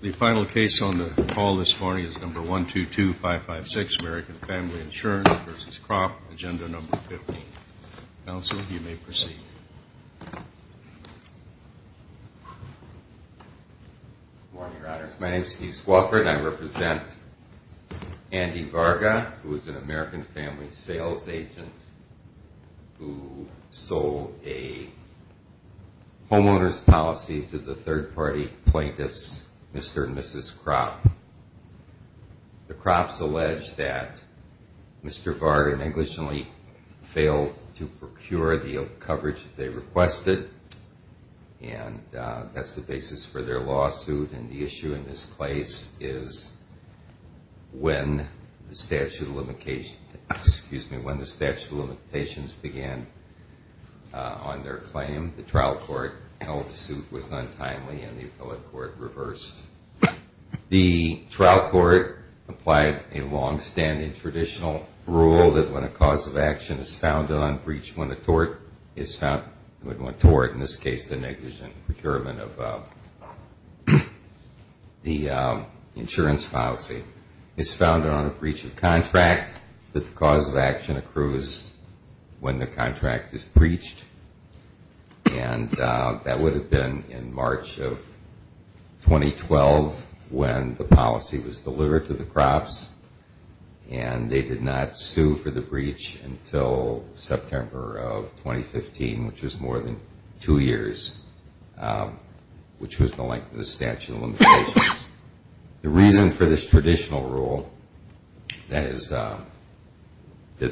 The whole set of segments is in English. The final case on the call this morning is number 122556, American Family Insurance v. Krop, agenda number 15. Counsel, you may proceed. Good morning, Your Honors. My name is Keith Swofford, and I represent Andy Varga, who is an American family sales agent who sold a homeowner's policy to the third-party plaintiffs, Mr. and Mrs. Krop. The Krops allege that Mr. Varga negligently failed to procure the coverage that they requested, and that's the basis for their lawsuit, and the issue in this case is when the statute of limitations began on their claim. The trial court held the suit was untimely, and the appellate court reversed. The trial court applied a long-standing traditional rule that when a cause of action is found unbreached when the tort is found – when the tort, in this case, the negligent procurement of the insurance policy is found on a breach of contract, that the cause of action accrues when the contract is breached, and that would have been in March of 2012 when the policy was delivered to the Krops, and they did not sue for the breach until September of 2015, which was more than two years, which was the length of the statute of limitations. The reason for this traditional rule, that is, that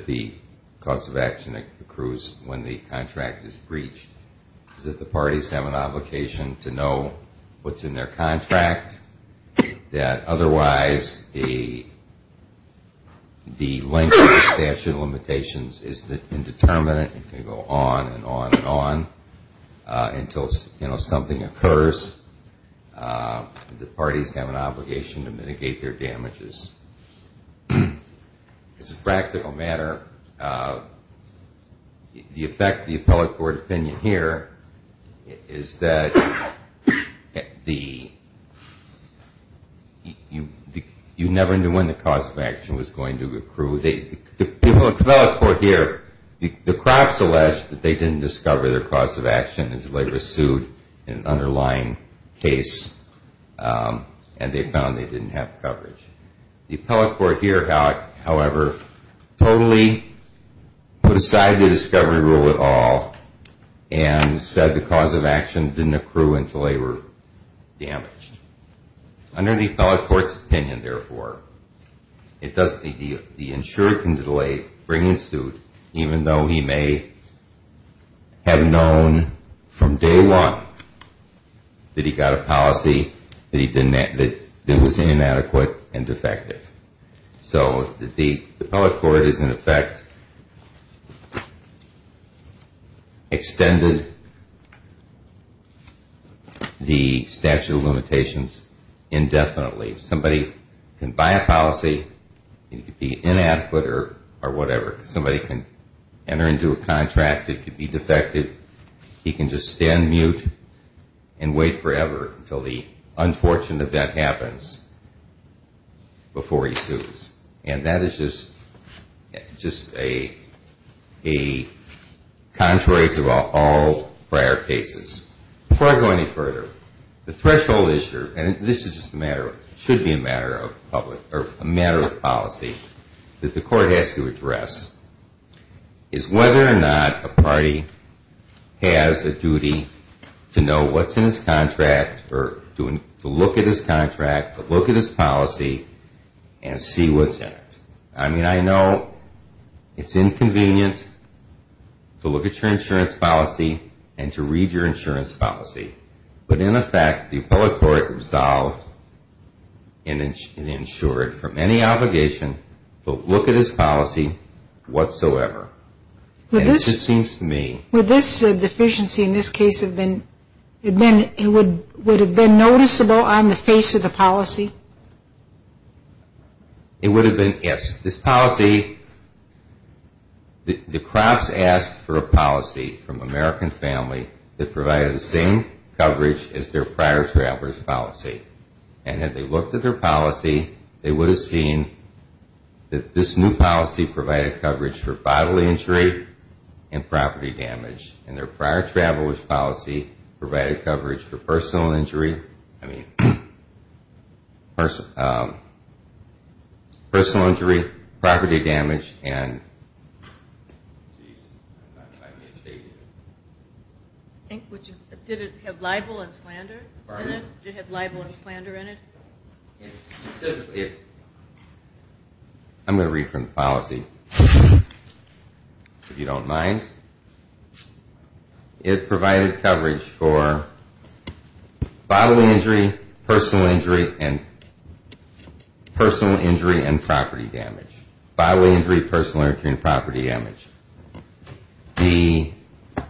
the cause of action accrues when the contract is breached, is that the parties have an obligation to know what's in their contract, that otherwise the length of the statute of limitations is indeterminate and can go on and on and on until something occurs. The parties have an obligation to mitigate their damages. As a practical matter, the effect of the appellate court opinion here is that you never knew when the cause of action was going to accrue. So the appellate court here, the Krops alleged that they didn't discover their cause of action until they were sued in an underlying case and they found they didn't have coverage. The appellate court here, however, totally put aside the discovery rule at all and said the cause of action didn't accrue until they were damaged. Under the appellate court's opinion, therefore, the insurer can delay bringing suit even though he may have known from day one that he got a policy that was inadequate and defective. So the appellate court has in effect extended the statute of limitations indefinitely. Somebody can buy a policy, it could be inadequate or whatever. Somebody can enter into a contract, it could be defective. He can just stand mute and wait forever until the unfortunate event happens before he sues. And that is just contrary to all prior cases. Before I go any further, the threshold issue, and this should be a matter of policy, that the court has to address is whether or not a party has a duty to know what's in his contract or to look at his contract or look at his policy and see what's in it. I mean, I know it's inconvenient to look at your insurance policy and to read your insurance policy. But in effect, the appellate court resolved and insured from any obligation to look at his policy whatsoever. And it just seems to me... Would this deficiency in this case have been noticeable on the face of the policy? It would have been, yes. This policy, the crops asked for a policy from American Family that provided the same coverage as their prior traveler's policy. And had they looked at their policy, they would have seen that this new policy provided coverage for bodily injury and property damage. And their prior traveler's policy provided coverage for personal injury, property damage and... Did it have libel and slander in it? Pardon? Did it have libel and slander in it? Specifically... I'm going to read from the policy, if you don't mind. It provided coverage for bodily injury, personal injury and property damage. Bodily injury, personal injury and property damage. The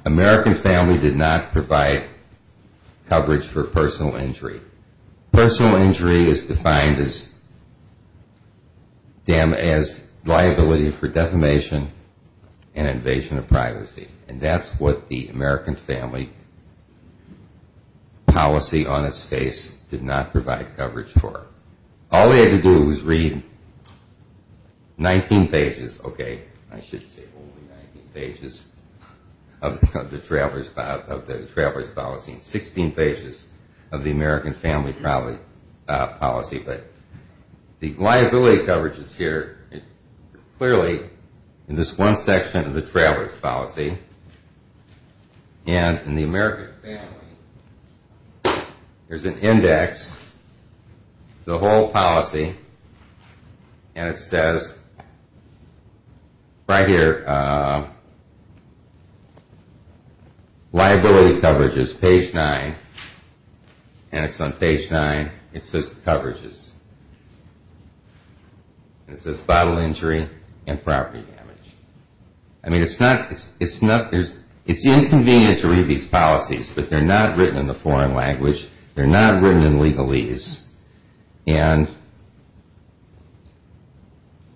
American Family did not provide coverage for personal injury. Personal injury is defined as liability for defamation and invasion of privacy. And that's what the American Family policy on its face did not provide coverage for. All they had to do was read 19 pages. Okay, I should say only 19 pages of the traveler's policy. 16 pages of the American Family policy. But the liability coverage is here clearly in this one section of the traveler's policy. And in the American Family, there's an index, the whole policy. And it says right here, liability coverage is page 9. And it's on page 9. It says coverages. It says bodily injury and property damage. I mean, it's not... It's inconvenient to read these policies, but they're not written in the foreign language. They're not written in legalese. And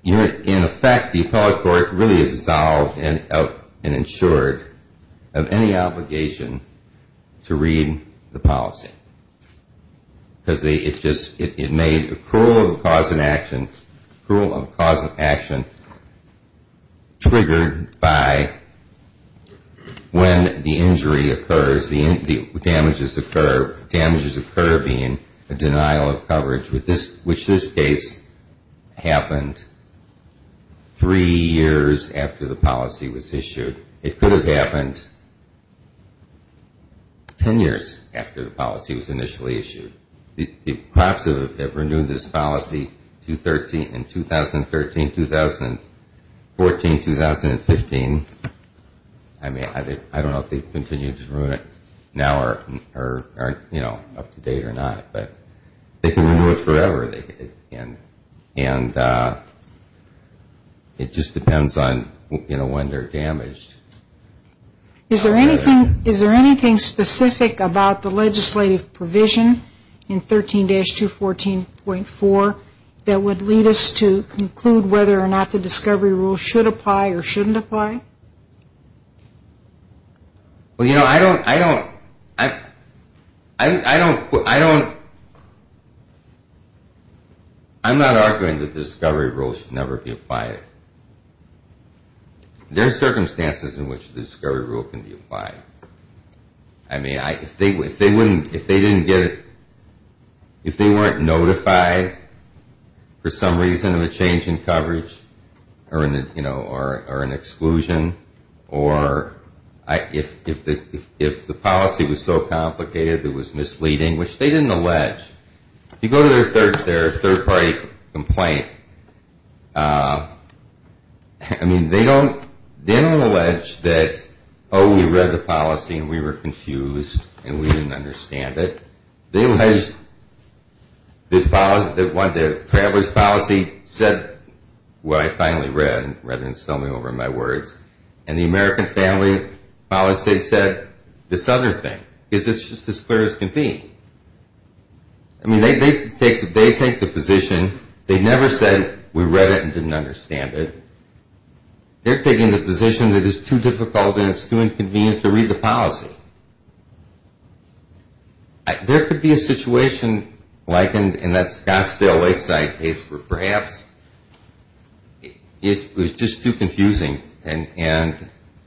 in effect, the appellate court really dissolved and insured of any obligation to read the policy. Because it just made the cruel cause of action triggered by when the injury occurs, the damages occur. The damages occur being a denial of coverage, which in this case happened three years after the policy was issued. It could have happened ten years after the policy was initially issued. Perhaps they've renewed this policy in 2013, 2014, 2015. I mean, I don't know if they've continued to renew it now or, you know, up to date or not. But they can renew it forever. And it just depends on, you know, when they're damaged. Is there anything specific about the legislative provision in 13-214.4 that would lead us to conclude whether or not the discovery rule should apply or shouldn't apply? Well, you know, I don't... I'm not arguing that the discovery rule should never be applied. There are circumstances in which the discovery rule can be applied. I mean, if they didn't get it, if they weren't notified for some reason of a change in coverage or an exclusion, or if the policy was so complicated it was misleading, which they didn't allege. If you go to their third-party complaint, I mean, they don't allege that, oh, we read the policy and we were confused and we didn't understand it. They allege that the traveler's policy said what I finally read, rather than sell me over my words, and the American family policy said this other thing, because it's just as clear as can be. I mean, they take the position. They never said we read it and didn't understand it. They're taking the position that it's too difficult and it's too inconvenient to read the policy. There could be a situation like in that Scottsdale Lakeside case where perhaps it was just too confusing and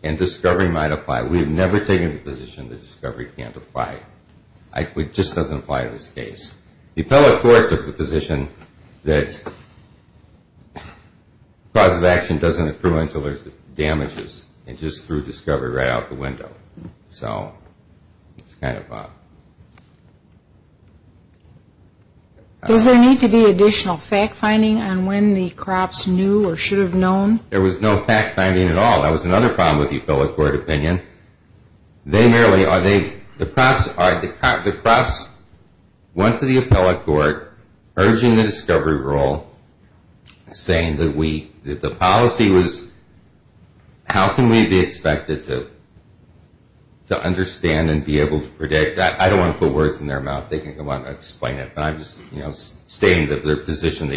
discovery might apply. We've never taken the position that discovery can't apply. It just doesn't apply in this case. The appellate court took the position that cause of action doesn't accrue until there's damages, and just threw discovery right out the window. So it's kind of a... Is there need to be additional fact-finding on when the crops knew or should have known? There was no fact-finding at all. That was another problem with the appellate court opinion. They merely... The crops went to the appellate court, urging the discovery rule, saying that the policy was... How can we be expected to understand and be able to predict? I don't want to put words in their mouth. They can go on and explain it, but I'm just stating their position.